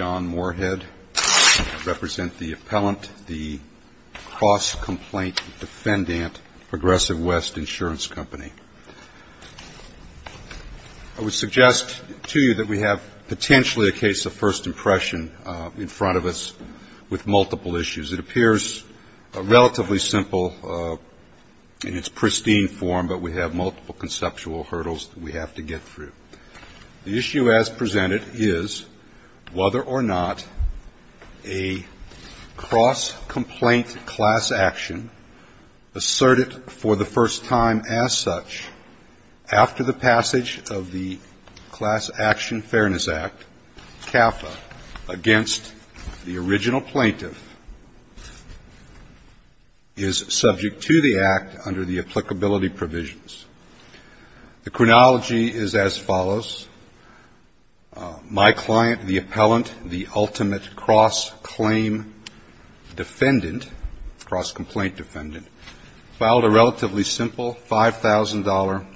I would suggest to you that we have potentially a case of first impression in front of us with multiple issues. It appears relatively simple in its pristine form, but we have multiple conceptual hurdles that we have to get through. The issue as presented is whether or not a cross-complaint class action asserted for the first time as such after the passage of the Class Action Fairness Act, CAFA, against the original plaintiff, is subject to the act under the applicability provisions. The chronology is as follows. My client, the appellant, the ultimate cross-claim defendant, cross-complaint defendant, filed a relatively simple $5,000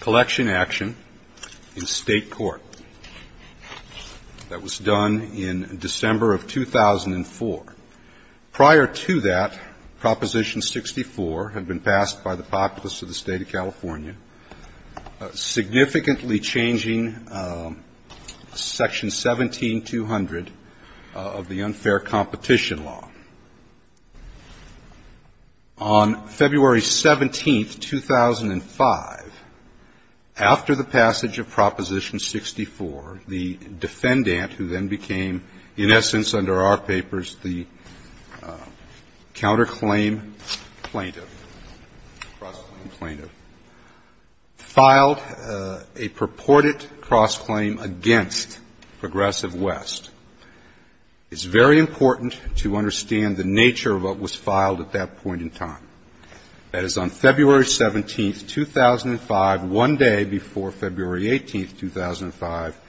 collection action in State court that was done in December of 2004. Prior to that, Proposition 64 had been passed by the populace of the State of California, significantly changing Section 17200 of the unfair competition law. On February 17, 2005, after the passage of Proposition 64, the defendant, who then became, in essence, under our papers, the counterclaim plaintiff, filed a purported cross-claim against Progressive West. It's very important to understand the nature of what was filed at that point in time. That is, on February 17, 2005, one day before February 18, 2005,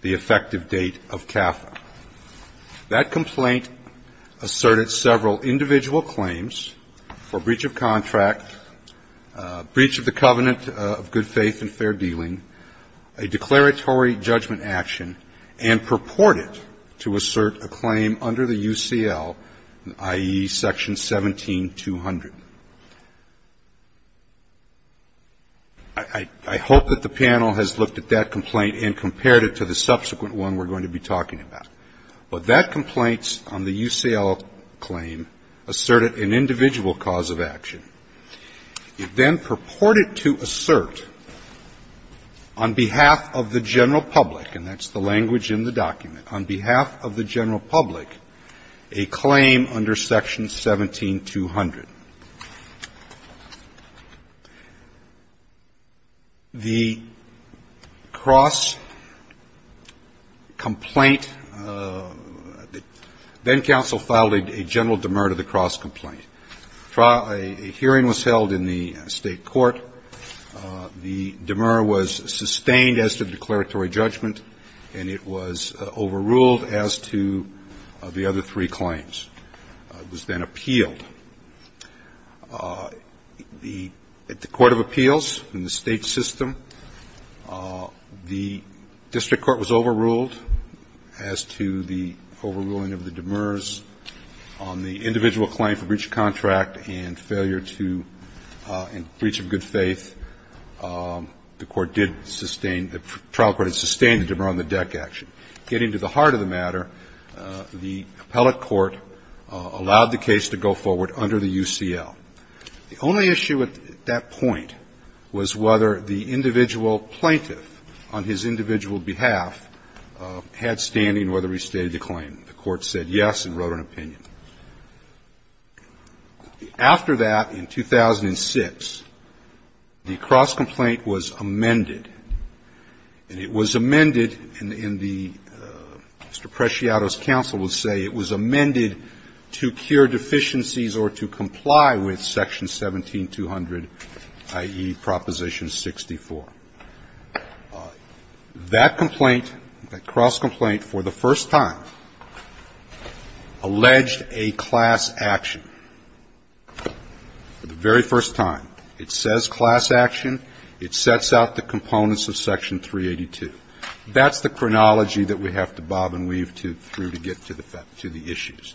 the effective date of CAFA. That complaint asserted several individual claims for breach of contract, breach of the covenant of good faith and fair dealing, a declaratory judgment action, and purported to assert a claim under the UCL, i.e., Section 17200. I hope that the panel has looked at that complaint and compared it to the subsequent one we're going to be talking about. But that complaint on the UCL claim asserted an individual cause of action. It then purported to assert on behalf of the general public, and that's the language in the document, on behalf of the general public, a claim under Section 17200. The cross-complaint, then counsel filed a general demur to the cross-complaint. A hearing was held in the State court. The demur was sustained as to the declaratory judgment, and it was overruled as to the other three claims. It was then appealed. At the court of appeals in the State system, the district court was overruled as to the overruling of the demurs on the individual claim for breach of contract and failure to breach of good faith. The court did sustain, the trial court had sustained the demur on the deck action. Getting to the heart of the matter, the appellate court allowed the case to go forward under the UCL. The only issue at that point was whether the individual plaintiff on his individual behalf had standing whether he stated a claim. The court said yes and wrote an opinion. After that, in 2006, the cross-complaint was amended. And it was amended in the Mr. Preciado's counsel would say it was amended to cure deficiencies or to comply with Section 17200, i.e., Proposition 64. That complaint, that cross-complaint for the first time alleged a class action. For the very first time, it says class action. It sets out the components of Section 382. That's the chronology that we have to bob and weave through to get to the issues.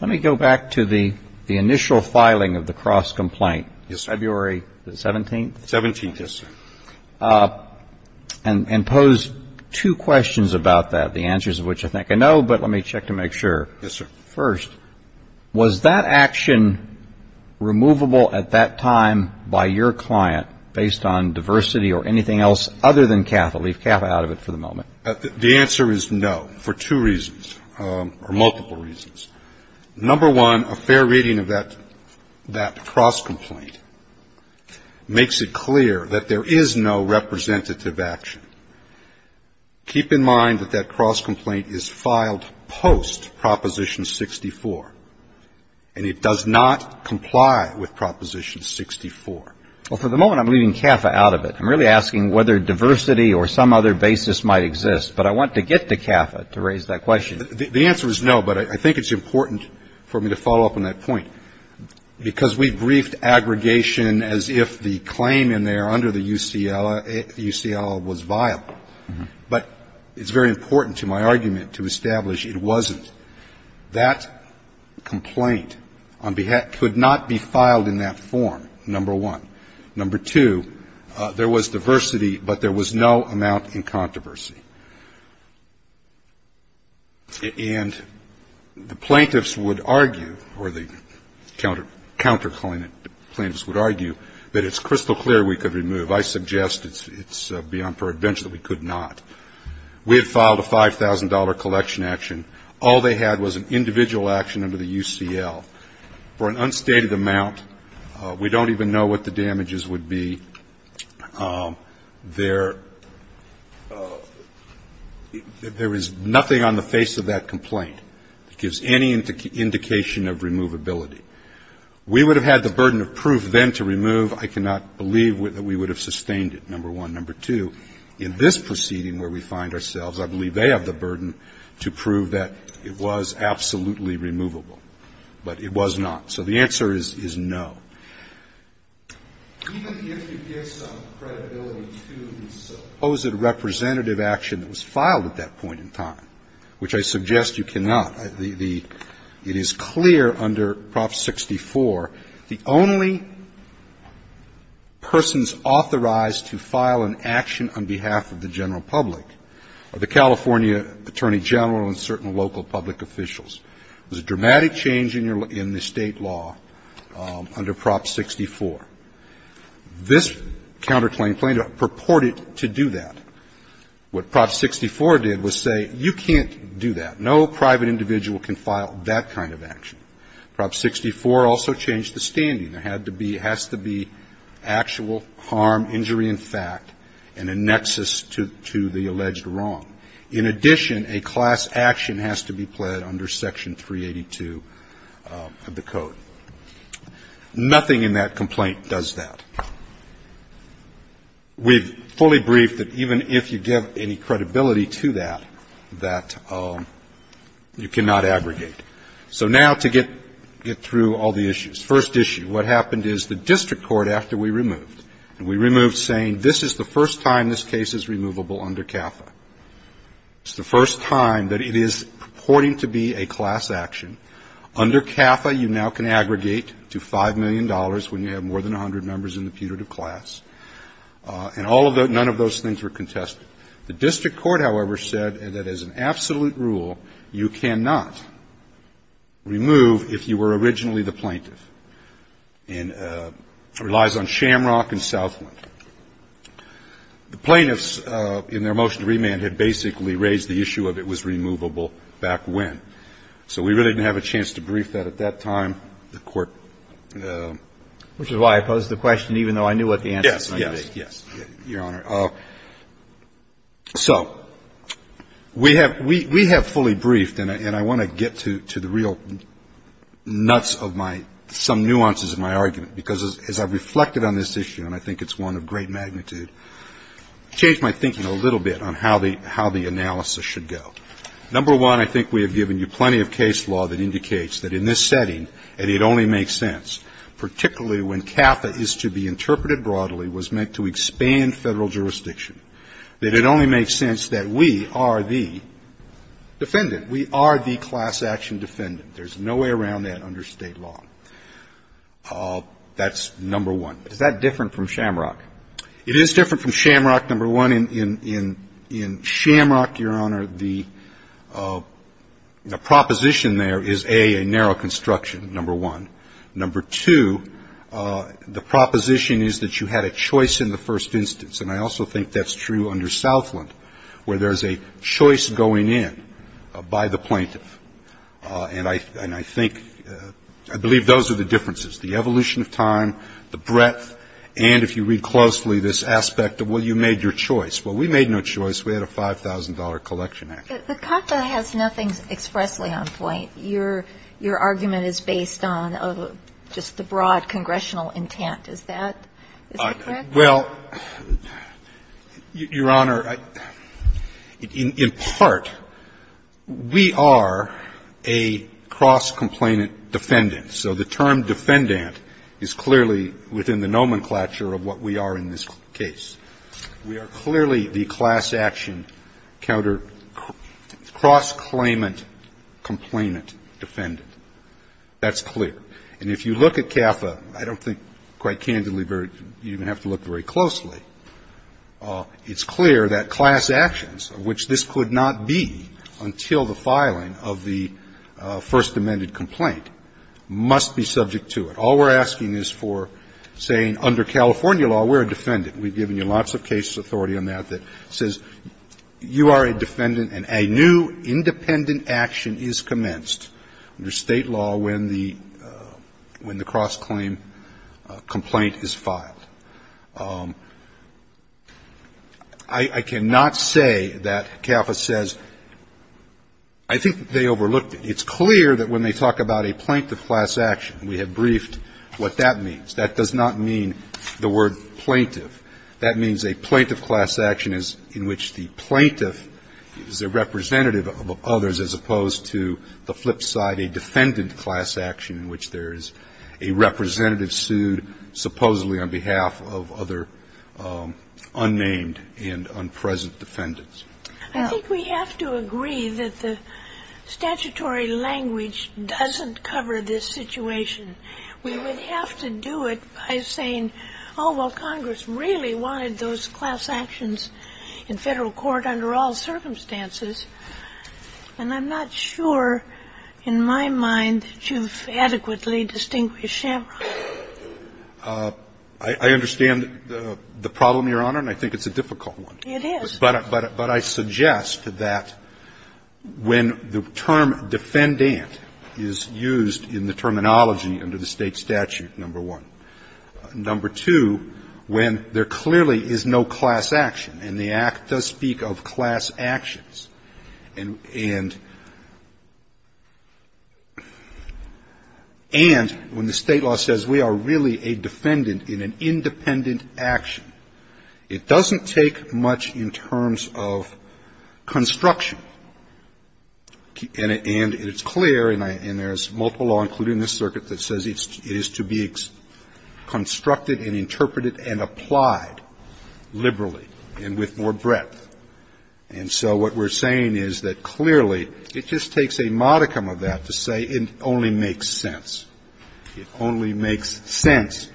Let me go back to the initial filing of the cross-complaint. Yes, sir. February 17th? 17th, yes, sir. And pose two questions about that, the answers of which I think I know, but let me check to make sure. Yes, sir. First, was that action removable at that time by your client based on diversity or anything else other than CAFA? Leave CAFA out of it for the moment. The answer is no, for two reasons, or multiple reasons. Number one, a fair reading of that cross-complaint makes it clear that there is no representative action. Keep in mind that that cross-complaint is filed post-Proposition 64. And it does not comply with Proposition 64. Well, for the moment, I'm leaving CAFA out of it. I'm really asking whether diversity or some other basis might exist. But I want to get to CAFA to raise that question. The answer is no, but I think it's important for me to follow up on that point. Because we briefed aggregation as if the claim in there under the UCLA was vile. But it's very important to my argument to establish it wasn't. That complaint on behalf of the UCLA could not be filed in that form, number one. Number two, there was diversity, but there was no amount in controversy. And the plaintiffs would argue, or the counterclaimant plaintiffs would argue, that it's crystal clear we could remove. I suggest it's beyond our advantage that we could not. We had filed a $5,000 collection action. All they had was an individual action under the UCL. For an unstated amount, we don't even know what the damages would be. There is nothing on the face of that complaint that gives any indication of removability. We would have had the burden of proof then to remove. I cannot believe that we would have sustained it, number one. Number two, in this proceeding where we find ourselves, I believe they have the burden to prove that it was absolutely removable. But it was not. So the answer is no. Even if you give some credibility to the supposed representative action that was filed at that point in time, which I suggest you cannot, it is clear under Prop 64, the only persons authorized to file an action on behalf of the general public are the California Attorney General and certain local public officials. There's a dramatic change in the State law under Prop 64. This counterclaim plaintiff purported to do that. What Prop 64 did was say, you can't do that. No private individual can file that kind of action. Prop 64 also changed the standing. There had to be, has to be actual harm, injury in fact, and a nexus to the alleged wrong. In addition, a class action has to be pled under Section 382 of the Code. Nothing in that complaint does that. We've fully briefed that even if you give any credibility to that, that you cannot aggregate. So now to get through all the issues. First issue, what happened is the district court, after we removed, and we removed the plaintiff, the district court said, this is the first time this case is removable under CAFA. It's the first time that it is purporting to be a class action. Under CAFA, you now can aggregate to $5 million when you have more than 100 members in the putative class. And all of those, none of those things were contested. The district court, however, said that as an absolute rule, you cannot remove if you have more than 100 members in the putative class. The plaintiffs were originally the plaintiff, and it relies on Shamrock and Southland. The plaintiffs in their motion to remand had basically raised the issue of it was removable back when. So we really didn't have a chance to brief that at that time. The Court ---- Which is why I posed the question, even though I knew what the answer was going to be. Yes, Your Honor. So we have fully briefed, and I want to get to the real nuts of my ---- some nuances of my argument, because as I've reflected on this issue, and I think it's one of great magnitude, changed my thinking a little bit on how the analysis should go. Number one, I think we have given you plenty of case law that indicates that in this jurisdiction, that it only makes sense that we are the defendant. We are the class action defendant. There's no way around that under State law. That's number one. Is that different from Shamrock? It is different from Shamrock, number one. In Shamrock, Your Honor, the proposition there is, A, a narrow construction, number one. Number two, the proposition is that you had a choice in the first instance. And I also think that's true under Southland, where there's a choice going in by the plaintiff. And I think ---- I believe those are the differences, the evolution of time, the breadth, and, if you read closely, this aspect of, well, you made your choice. Well, we made no choice. We had a $5,000 collection act. The CACA has nothing expressly on point. Your argument is based on just the broad congressional intent. Is that correct? Well, Your Honor, in part, we are a cross-complainant defendant. So the term defendant is clearly within the nomenclature of what we are in this case. We are clearly the class-action counter-cross-claimant complainant defendant. That's clear. And if you look at CAFA, I don't think quite candidly, you don't even have to look very closely, it's clear that class actions, which this could not be until the filing of the First Amendment complaint, must be subject to it. All we're asking is for, say, under California law, we're a defendant. We've given you lots of case authority on that that says you are a defendant and a new independent action is commenced under State law when the cross-claim complaint is filed. I cannot say that CAFA says, I think they overlooked it. It's clear that when they talk about a plaintiff class action, we have briefed what that means. That does not mean the word plaintiff. That means a plaintiff class action is in which the plaintiff is a representative of others as opposed to the flip side, a defendant class action in which there is a representative sued supposedly on behalf of other unnamed and unpresent defendants. I think we have to agree that the statutory language doesn't cover this situation. We would have to do it by saying, oh, well, Congress really wanted those class actions in Federal court under all circumstances, and I'm not sure, in my mind, that you've adequately distinguished Shamrock. I understand the problem, Your Honor, and I think it's a difficult one. It is. But I suggest that when the term defendant is used in the terminology, you have to look at the terminology under the State statute, number one, number two, when there clearly is no class action, and the Act does speak of class actions, and when the State law says we are really a defendant in an independent action, it doesn't take much in terms of construction, and it's clear, and there's multiple law, including this circuit, that says it is to be constructed and interpreted and applied liberally and with more breadth. And so what we're saying is that clearly it just takes a modicum of that to say it only makes sense, it only makes sense.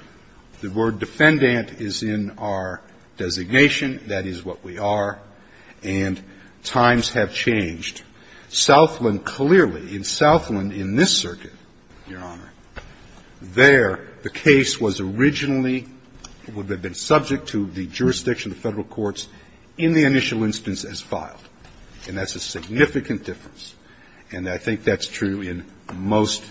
The word defendant is in our designation, that is what we are, and times have changed. Southland clearly, in Southland in this circuit, Your Honor, there the case was originally subject to the jurisdiction of the Federal courts in the initial instance as filed, and that's a significant difference. And I think that's true in most,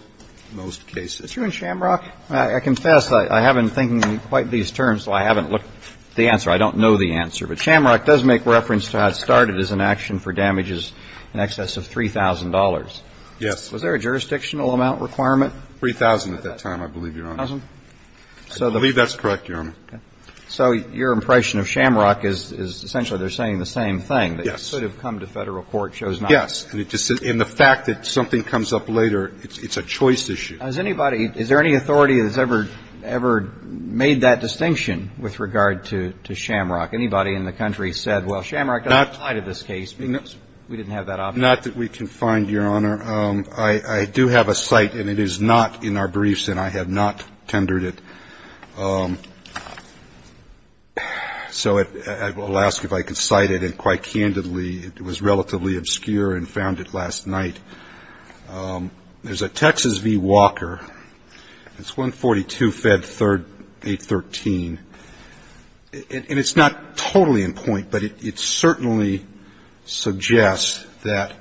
most cases. Roberts. Is it true in Shamrock? I confess, I haven't been thinking in quite these terms, so I haven't looked at the answer. I don't know the answer. But Shamrock does make reference to how it started as an action for damages, in excess of $3,000. Yes. Was there a jurisdictional amount requirement? $3,000 at that time, I believe, Your Honor. $3,000? I believe that's correct, Your Honor. So your impression of Shamrock is essentially they're saying the same thing. Yes. That it should have come to Federal court shows nothing. Yes. And the fact that something comes up later, it's a choice issue. Has anybody, is there any authority that has ever, ever made that distinction with regard to Shamrock? Anybody in the country said, well, Shamrock doesn't apply to this case because we didn't have that option. Not that we can find, Your Honor. I do have a cite, and it is not in our briefs, and I have not tendered it. So I will ask if I can cite it, and quite candidly, it was relatively obscure and found it last night. There's a Texas v. Walker. It's 142 Fed 813. And it's not totally in point, but it certainly suggests that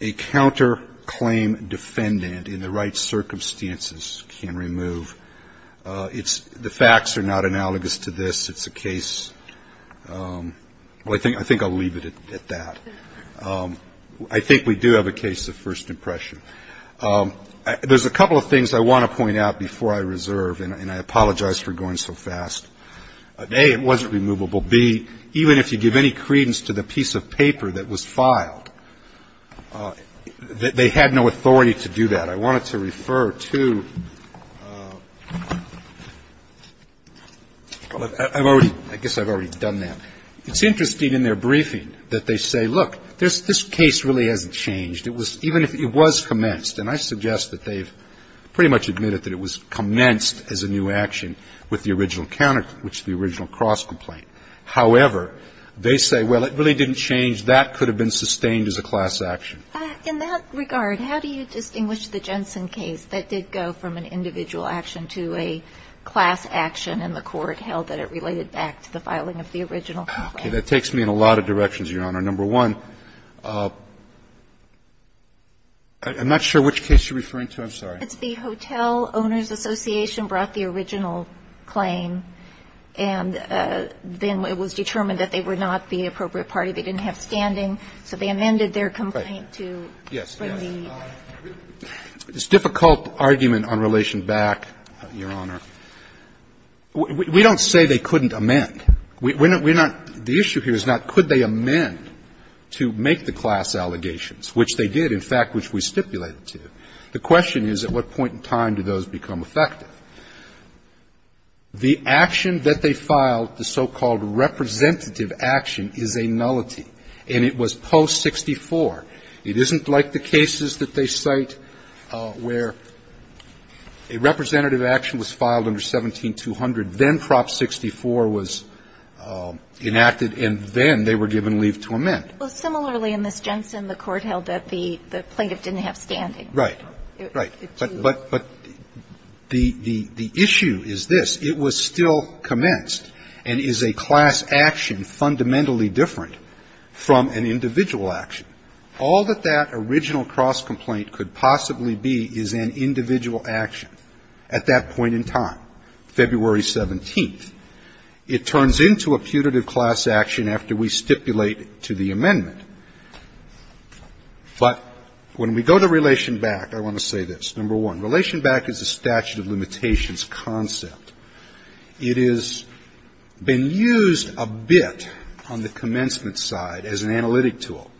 a counterclaim defendant in the right circumstances can remove. It's, the facts are not analogous to this. It's a case, well, I think I'll leave it at that. I think we do have a case of first impression. There's a couple of things I want to point out before I reserve, and I apologize for going so fast. A, it wasn't removable. B, even if you give any credence to the piece of paper that was filed, they had no authority to do that. I wanted to refer to, I've already, I guess I've already done that. It's interesting in their briefing that they say, look, this case really hasn't changed. It was, even if it was commenced, and I suggest that they've pretty much admitted that it was commenced as a new action with the original counterclaim, which is the original cross-complaint. However, they say, well, it really didn't change. That could have been sustained as a class action. In that regard, how do you distinguish the Jensen case that did go from an individual action to a class action, and the Court held that it related back to the filing of the original complaint? Okay, that takes me in a lot of directions, Your Honor. Number one, I'm not sure which case you're referring to. I'm sorry. It's the Hotel Owners Association brought the original claim, and then it was determined that they were not the appropriate party. They didn't have standing, so they amended their complaint to bring the lead. It's a difficult argument on relation back, Your Honor. We don't say they couldn't amend. We're not the issue here is not could they amend to make the class allegations, which they did, in fact, which we stipulated to. The question is, at what point in time did those become effective? The action that they filed, the so-called representative action, is a nullity. And it was post-64. It isn't like the cases that they cite where a representative action was filed under 17-200, then Prop 64 was enacted, and then they were given leave to amend. Well, similarly, in Miss Jensen, the Court held that the plaintiff didn't have standing. Right. Right. But the issue is this. It was still commenced and is a class action fundamentally different from an individual action. All that that original cross complaint could possibly be is an individual action at that point in time. February 17th. It turns into a putative class action after we stipulate to the amendment. But when we go to relation back, I want to say this. Number one, relation back is a statute of limitations concept. It has been used a bit on the commencement side as an analytic tool.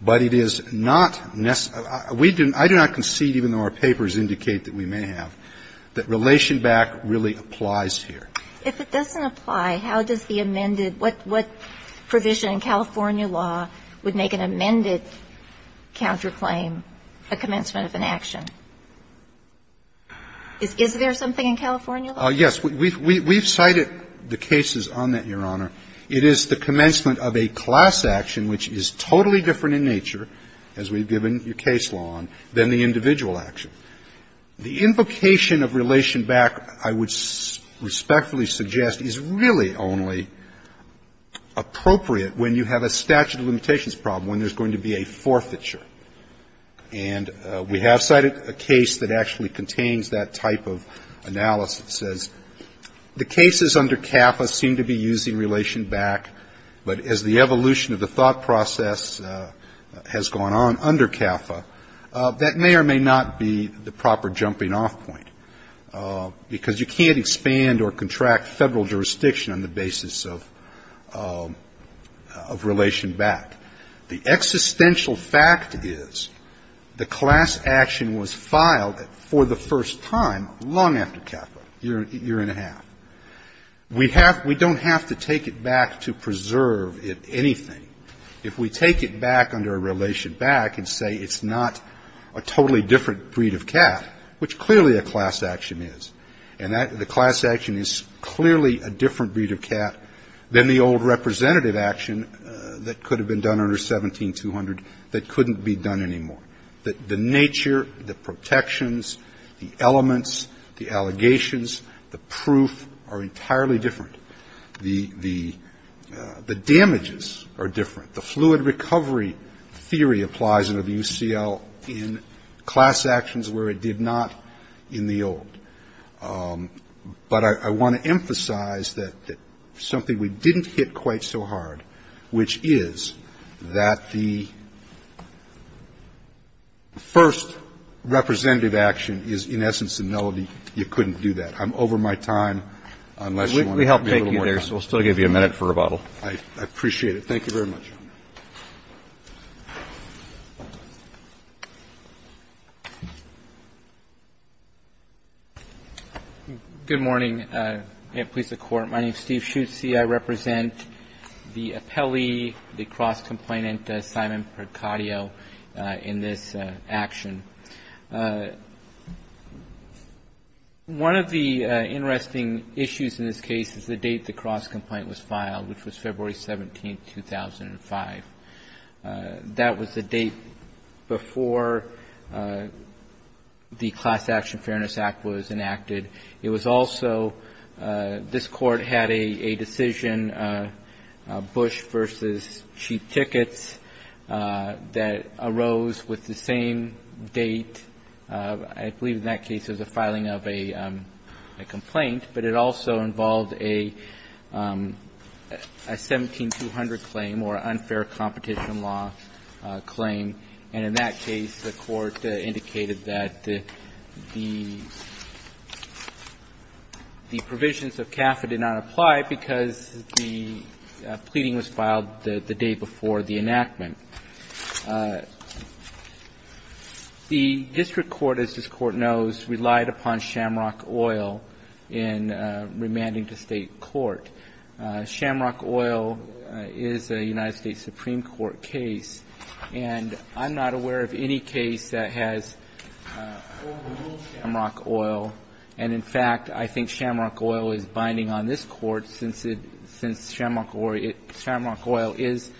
But it is not necessary. I do not concede, even though our papers indicate that we may have, that relation back really applies here. If it doesn't apply, how does the amended, what provision in California law would make an amended counterclaim a commencement of an action? Is there something in California law? Yes. We've cited the cases on that, Your Honor. It is the commencement of a class action which is totally different in nature, as we've given your case law on, than the individual action. The invocation of relation back, I would respectfully suggest, is really only appropriate when you have a statute of limitations problem, when there's going to be a forfeiture. And we have cited a case that actually contains that type of analysis. It says the cases under CAFA seem to be using relation back, but as the evolution of the thought process has gone on under CAFA, that may or may not be the proper jumping off point. Because you can't expand or contract federal jurisdiction on the basis of relation back. The existential fact is the class action was filed for the first time long after CAFA, a year and a half. We don't have to take it back to preserve anything. If we take it back under a relation back and say it's not a totally different breed of cat, which clearly a class action is, and the class action is clearly a different breed of cat than the old representative action that could have been done under 17-200 that couldn't be done anymore. The nature, the protections, the elements, the allegations, the proof are entirely different. The damages are different. The fluid recovery theory applies under the UCL in class actions where it did not in the old. But I want to emphasize that something we didn't hit quite so hard, which is that the first representative action is, in essence, a melody. You couldn't do that. I'm over my time. Unless you want to give me a little more time. Roberts. We'll still give you a minute for rebuttal. I appreciate it. Thank you very much. Good morning. May it please the Court. My name is Steve Schutze. I represent the appellee, the cross-complainant, Simon Percadio, in this action. One of the interesting issues in this case is the date the cross-complaint was filed, which was February 17, 2005. That was the date before the Class Action Fairness Act was enacted. It was also, this Court had a decision, Bush v. Cheap Tickets, that arose with the same date, I believe in that case, of the filing of a complaint. But it also involved a 17-200 claim or unfair competition law claim. And in that case, the Court indicated that the provisions of CAFA did not apply because the pleading was filed the day before the enactment. The district court, as this Court knows, relied upon Shamrock Oil in remanding to state court. Shamrock Oil is a United States Supreme Court case. And I'm not aware of any case that has overruled Shamrock Oil. And, in fact, I think Shamrock Oil is binding on this Court since Shamrock Oil is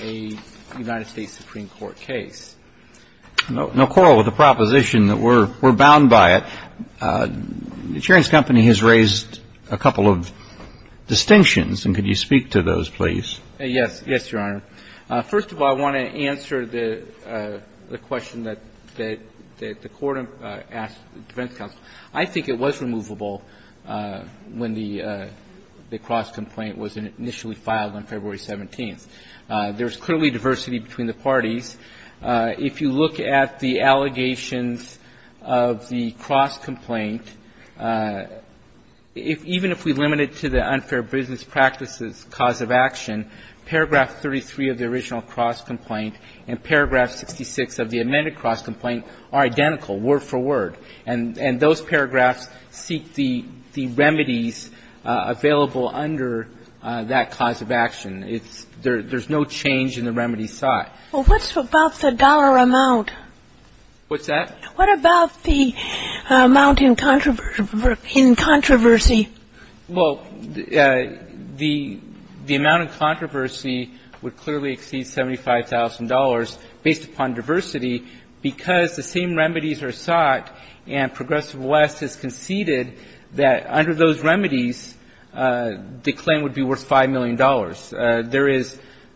a United States Supreme Court case. No quarrel with the proposition that we're bound by it. The chair's company has raised a couple of distinctions, and could you speak to those, please? Yes. Yes, Your Honor. First of all, I want to answer the question that the Court asked the defense counsel. I think it was removable when the cross-complaint was initially filed on February 17. There's clearly diversity between the parties. If you look at the allegations of the cross-complaint, even if we limit it to the unfair business practices cause of action, paragraph 33 of the original cross-complaint and paragraph 66 of the amended cross-complaint are identical, word for word. And those paragraphs seek the remedies available under that cause of action. There's no change in the remedies sought. Well, what's about the dollar amount? What's that? What about the amount in controversy? Well, the amount in controversy would clearly exceed $75,000 based upon diversity because the same remedies are sought, and Progressive West has conceded that under those remedies, the claim would be worth $5 million. $5 million.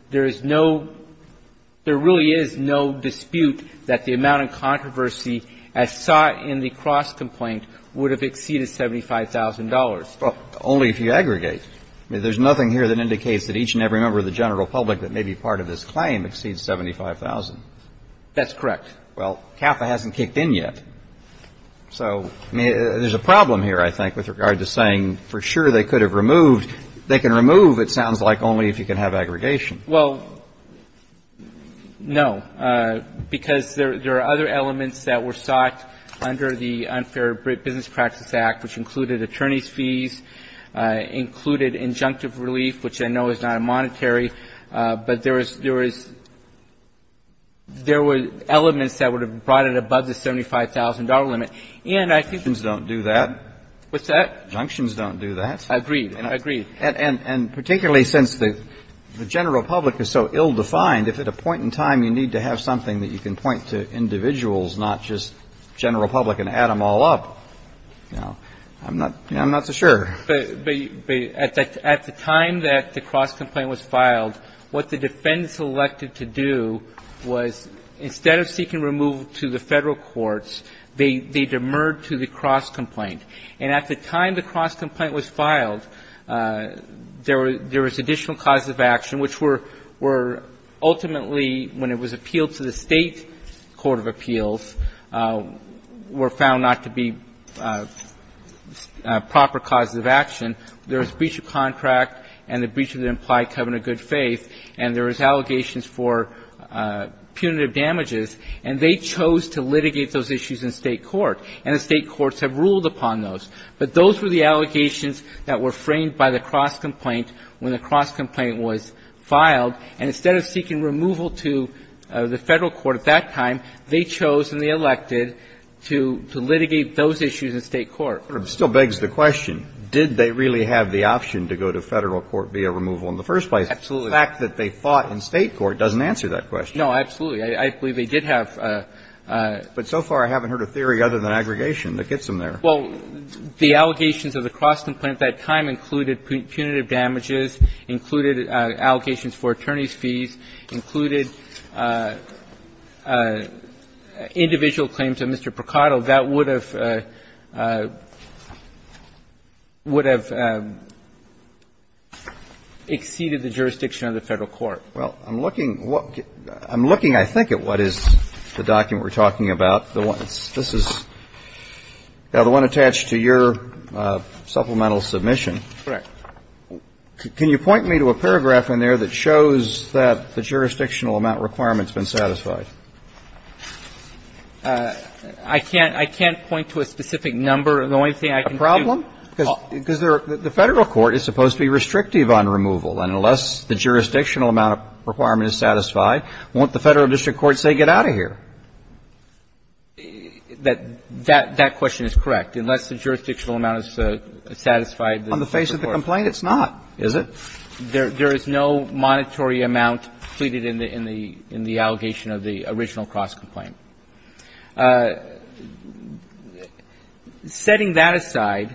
There is no – there really is no dispute that the amount in controversy as sought in the cross-complaint would have exceeded $75,000. Well, only if you aggregate. I mean, there's nothing here that indicates that each and every member of the general public that may be part of this claim exceeds $75,000. That's correct. Well, CAFA hasn't kicked in yet. So, I mean, there's a problem here, I think, with regard to saying for sure they could have removed. They can remove, it sounds like, only if you can have aggregation. Well, no, because there are other elements that were sought under the Unfair Business Practice Act, which included attorney's fees, included injunctive relief, which I know is not a monetary, but there was – there was – there were elements that would have brought it above the $75,000 limit. And I think the – Injunctions don't do that. What's that? Injunctions don't do that. I agree. I agree. And particularly since the general public is so ill-defined, if at a point in time you need to have something that you can point to individuals, not just general public and add them all up, you know, I'm not – I'm not so sure. But at the time that the cross-complaint was filed, what the defendants elected to do was instead of seeking removal to the Federal courts, they demurred to the cross-complaint. And at the time the cross-complaint was filed, there were – there was additional causes of action which were – were ultimately, when it was appealed to the State court of appeals, were found not to be proper causes of action. There was breach of contract and the breach of the implied covenant of good faith, and there was allegations for punitive damages. And they chose to litigate those issues in State court. And the State courts have ruled upon those. But those were the allegations that were framed by the cross-complaint when the cross-complaint was filed. And instead of seeking removal to the Federal court at that time, they chose and they elected to – to litigate those issues in State court. But it still begs the question, did they really have the option to go to Federal court via removal in the first place? Absolutely. The fact that they fought in State court doesn't answer that question. No, absolutely. I believe they did have – But so far I haven't heard a theory other than aggregation that gets them there. Well, the allegations of the cross-complaint at that time included punitive damages, included allegations for attorney's fees, included individual claims to Mr. Procato. That would have – would have exceeded the jurisdiction of the Federal court. Well, I'm looking – I'm looking, I think, at what is the document we're talking about, the one – this is the one attached to your supplemental submission. Correct. Can you point me to a paragraph in there that shows that the jurisdictional amount requirement's been satisfied? I can't – I can't point to a specific number. The only thing I can do – A problem? Because the Federal court is supposed to be restrictive on removal. And unless the jurisdictional amount requirement is satisfied, won't the Federal district courts, say, get out of here? That – that question is correct. Unless the jurisdictional amount is satisfied. On the face of the complaint, it's not, is it? There is no monetary amount pleaded in the – in the allegation of the original cross-complaint. Setting that aside,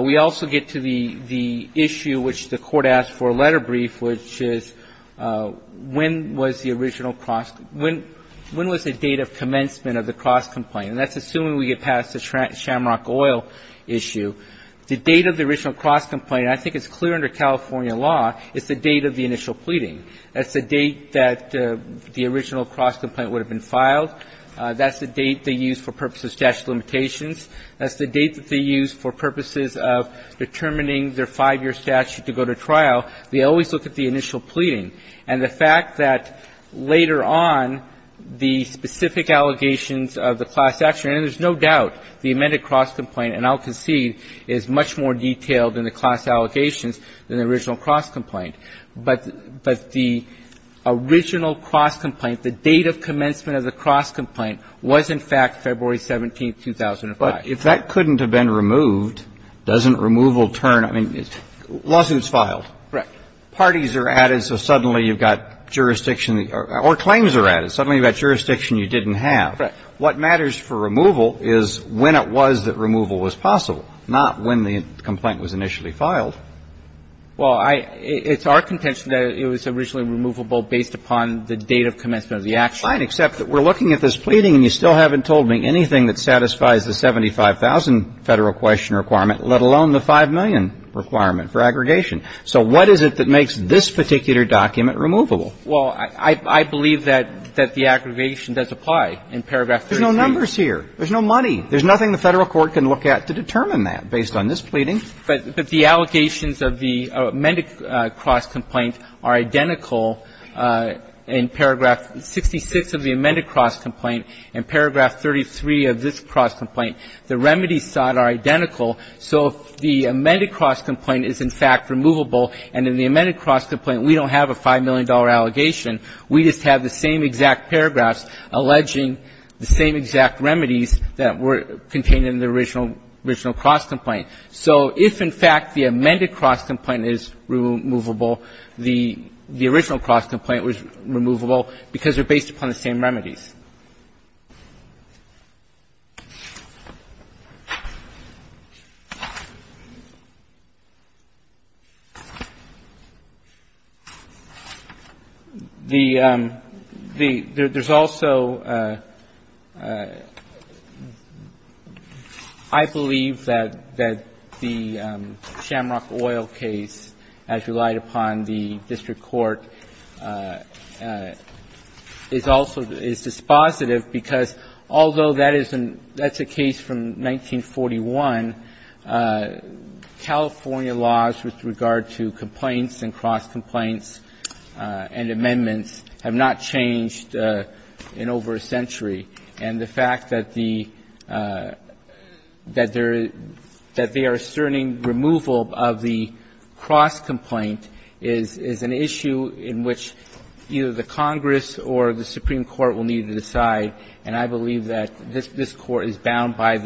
we also get to the – the issue which the court asked for a letter brief, which is when was the original cross – when was the date of commencement of the cross-complaint? And that's assuming we get past the Shamrock Oil issue. The date of the original cross-complaint, I think it's clear under California law, is the date of the initial pleading. That's the date that the original cross-complaint would have been filed. That's the date they use for purposes of statute of limitations. That's the date that they use for purposes of determining their five-year statute to go to trial. They always look at the initial pleading. And the fact that later on, the specific allegations of the class action, and there's no doubt the amended cross-complaint, and I'll concede, is much more detailed in the class allegations than the original cross-complaint. But the original cross-complaint, the date of commencement of the cross-complaint was, in fact, February 17, 2005. But if that couldn't have been removed, doesn't removal turn – I mean, lawsuits filed. Right. Parties are added, so suddenly you've got jurisdiction – or claims are added. Suddenly you've got jurisdiction you didn't have. Right. What matters for removal is when it was that removal was possible, not when the complaint was initially filed. Well, it's our contention that it was originally removable based upon the date of commencement of the action. Fine. Except that we're looking at this pleading and you still haven't told me anything that satisfies the 75,000 Federal question requirement, let alone the 5 million requirement for aggregation. So what is it that makes this particular document removable? Well, I believe that the aggregation does apply in paragraph 33. There's no numbers here. There's no money. There's nothing the Federal court can look at to determine that based on this pleading. But the allegations of the amended cross-complaint are identical in paragraph 66 of the amended cross-complaint and paragraph 33 of this cross-complaint. The remedies sought are identical. So if the amended cross-complaint is, in fact, removable, and in the amended cross-complaint we don't have a $5 million allegation, we just have the same exact paragraphs alleging the same exact remedies that were contained in the original cross-complaint. So if, in fact, the amended cross-complaint is removable, the original cross-complaint was removable because they're based upon the same remedies. There's also, I believe, that the Shamrock Oil case, as relied upon the district court, is also dispositive because although that is a case from 1941, California laws with regard to complaints and cross-complaints and amendments have not changed in over a century. And the fact that the – that they are asserting removal of the cross-complaint is an issue in which either the Congress or the Supreme Court will need to decide. And I believe that this Court is bound by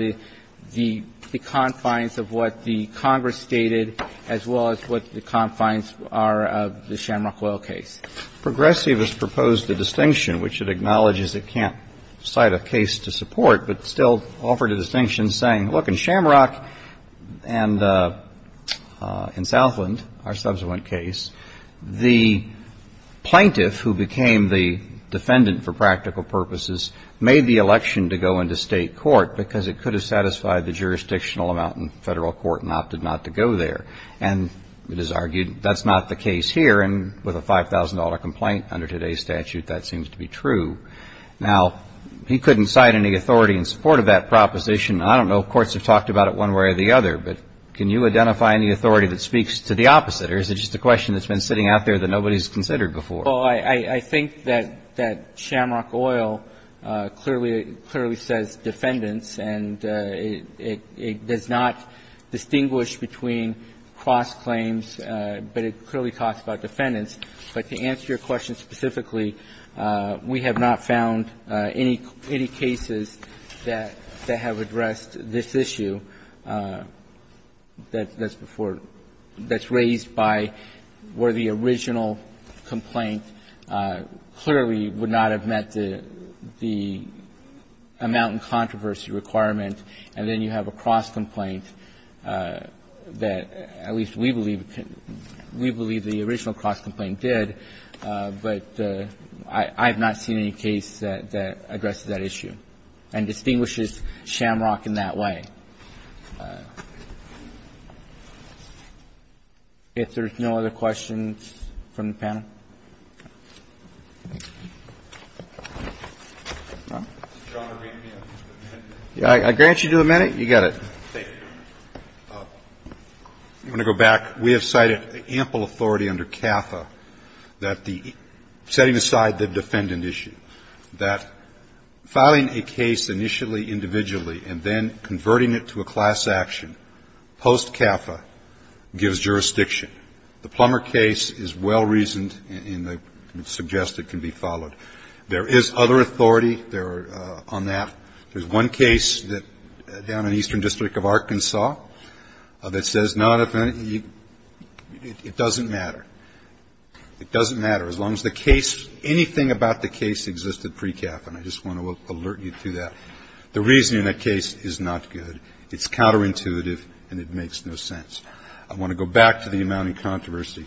the confines of what the Congress stated as well as what the confines are of the Shamrock Oil case. Progressive has proposed a distinction which it acknowledges it can't cite a case to support, but still offered a distinction saying, look, in Shamrock and in Southland, our subsequent case, the plaintiff who became the defendant for practical purposes made the election to go into State court because it could have satisfied the jurisdictional amount in Federal court and opted not to go there. And it is argued that's not the case here. And with a $5,000 complaint under today's statute, that seems to be true. Now, he couldn't cite any authority in support of that proposition. I don't know if courts have talked about it one way or the other, but can you identify any authority that speaks to the opposite? Or is it just a question that's been sitting out there that nobody's considered before? Well, I think that Shamrock Oil clearly says defendants, and it does not distinguish between cross-claims, but it clearly talks about defendants. But to answer your question specifically, we have not found any cases that have addressed this issue that's before you, that's raised by where the original complaint clearly would not have met the amount and controversy requirement, and then you have a cross-complaint that at least we believe the original cross-complaint did, but I have not seen any case that addresses that issue and distinguishes Shamrock in that way. If there's no other questions from the panel. I grant you a minute. You got it. Okay. I'm going to go back. We have cited ample authority under CAFA that the setting aside the defendant issue, that filing a case initially individually and then converting it to a class action post-CAFA gives jurisdiction. The Plummer case is well-reasoned and suggested can be followed. There is other authority there on that. There's one case down in Eastern District of Arkansas that says not if any, it doesn't matter. It doesn't matter as long as the case, anything about the case existed pre-CAFA, and I just want to alert you to that. The reasoning in that case is not good. It's counterintuitive and it makes no sense. I want to go back to the amount and controversy.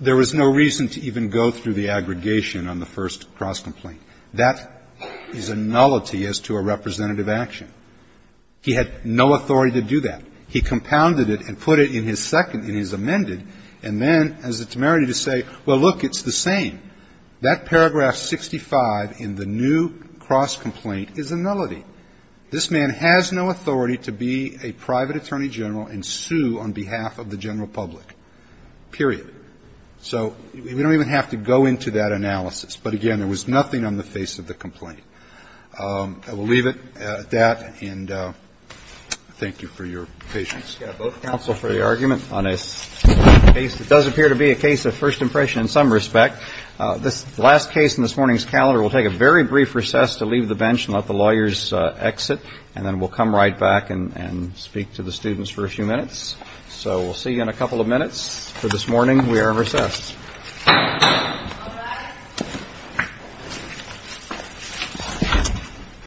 There was no reason to even go through the aggregation on the first cross-complaint. That is a nullity as to a representative action. He had no authority to do that. He compounded it and put it in his second, in his amended, and then has the temerity to say, well, look, it's the same. That paragraph 65 in the new cross-complaint is a nullity. This man has no authority to be a private attorney general and sue on behalf of the general public, period. So we don't even have to go into that analysis. But, again, there was nothing on the face of the complaint. I will leave it at that. And thank you for your patience. I've got both counsel for the argument on a case that does appear to be a case of first impression in some respect. This last case in this morning's calendar, we'll take a very brief recess to leave the bench and let the lawyers exit, and then we'll come right back and speak to the students for a few minutes. So we'll see you in a couple of minutes. For this morning, we are recessed.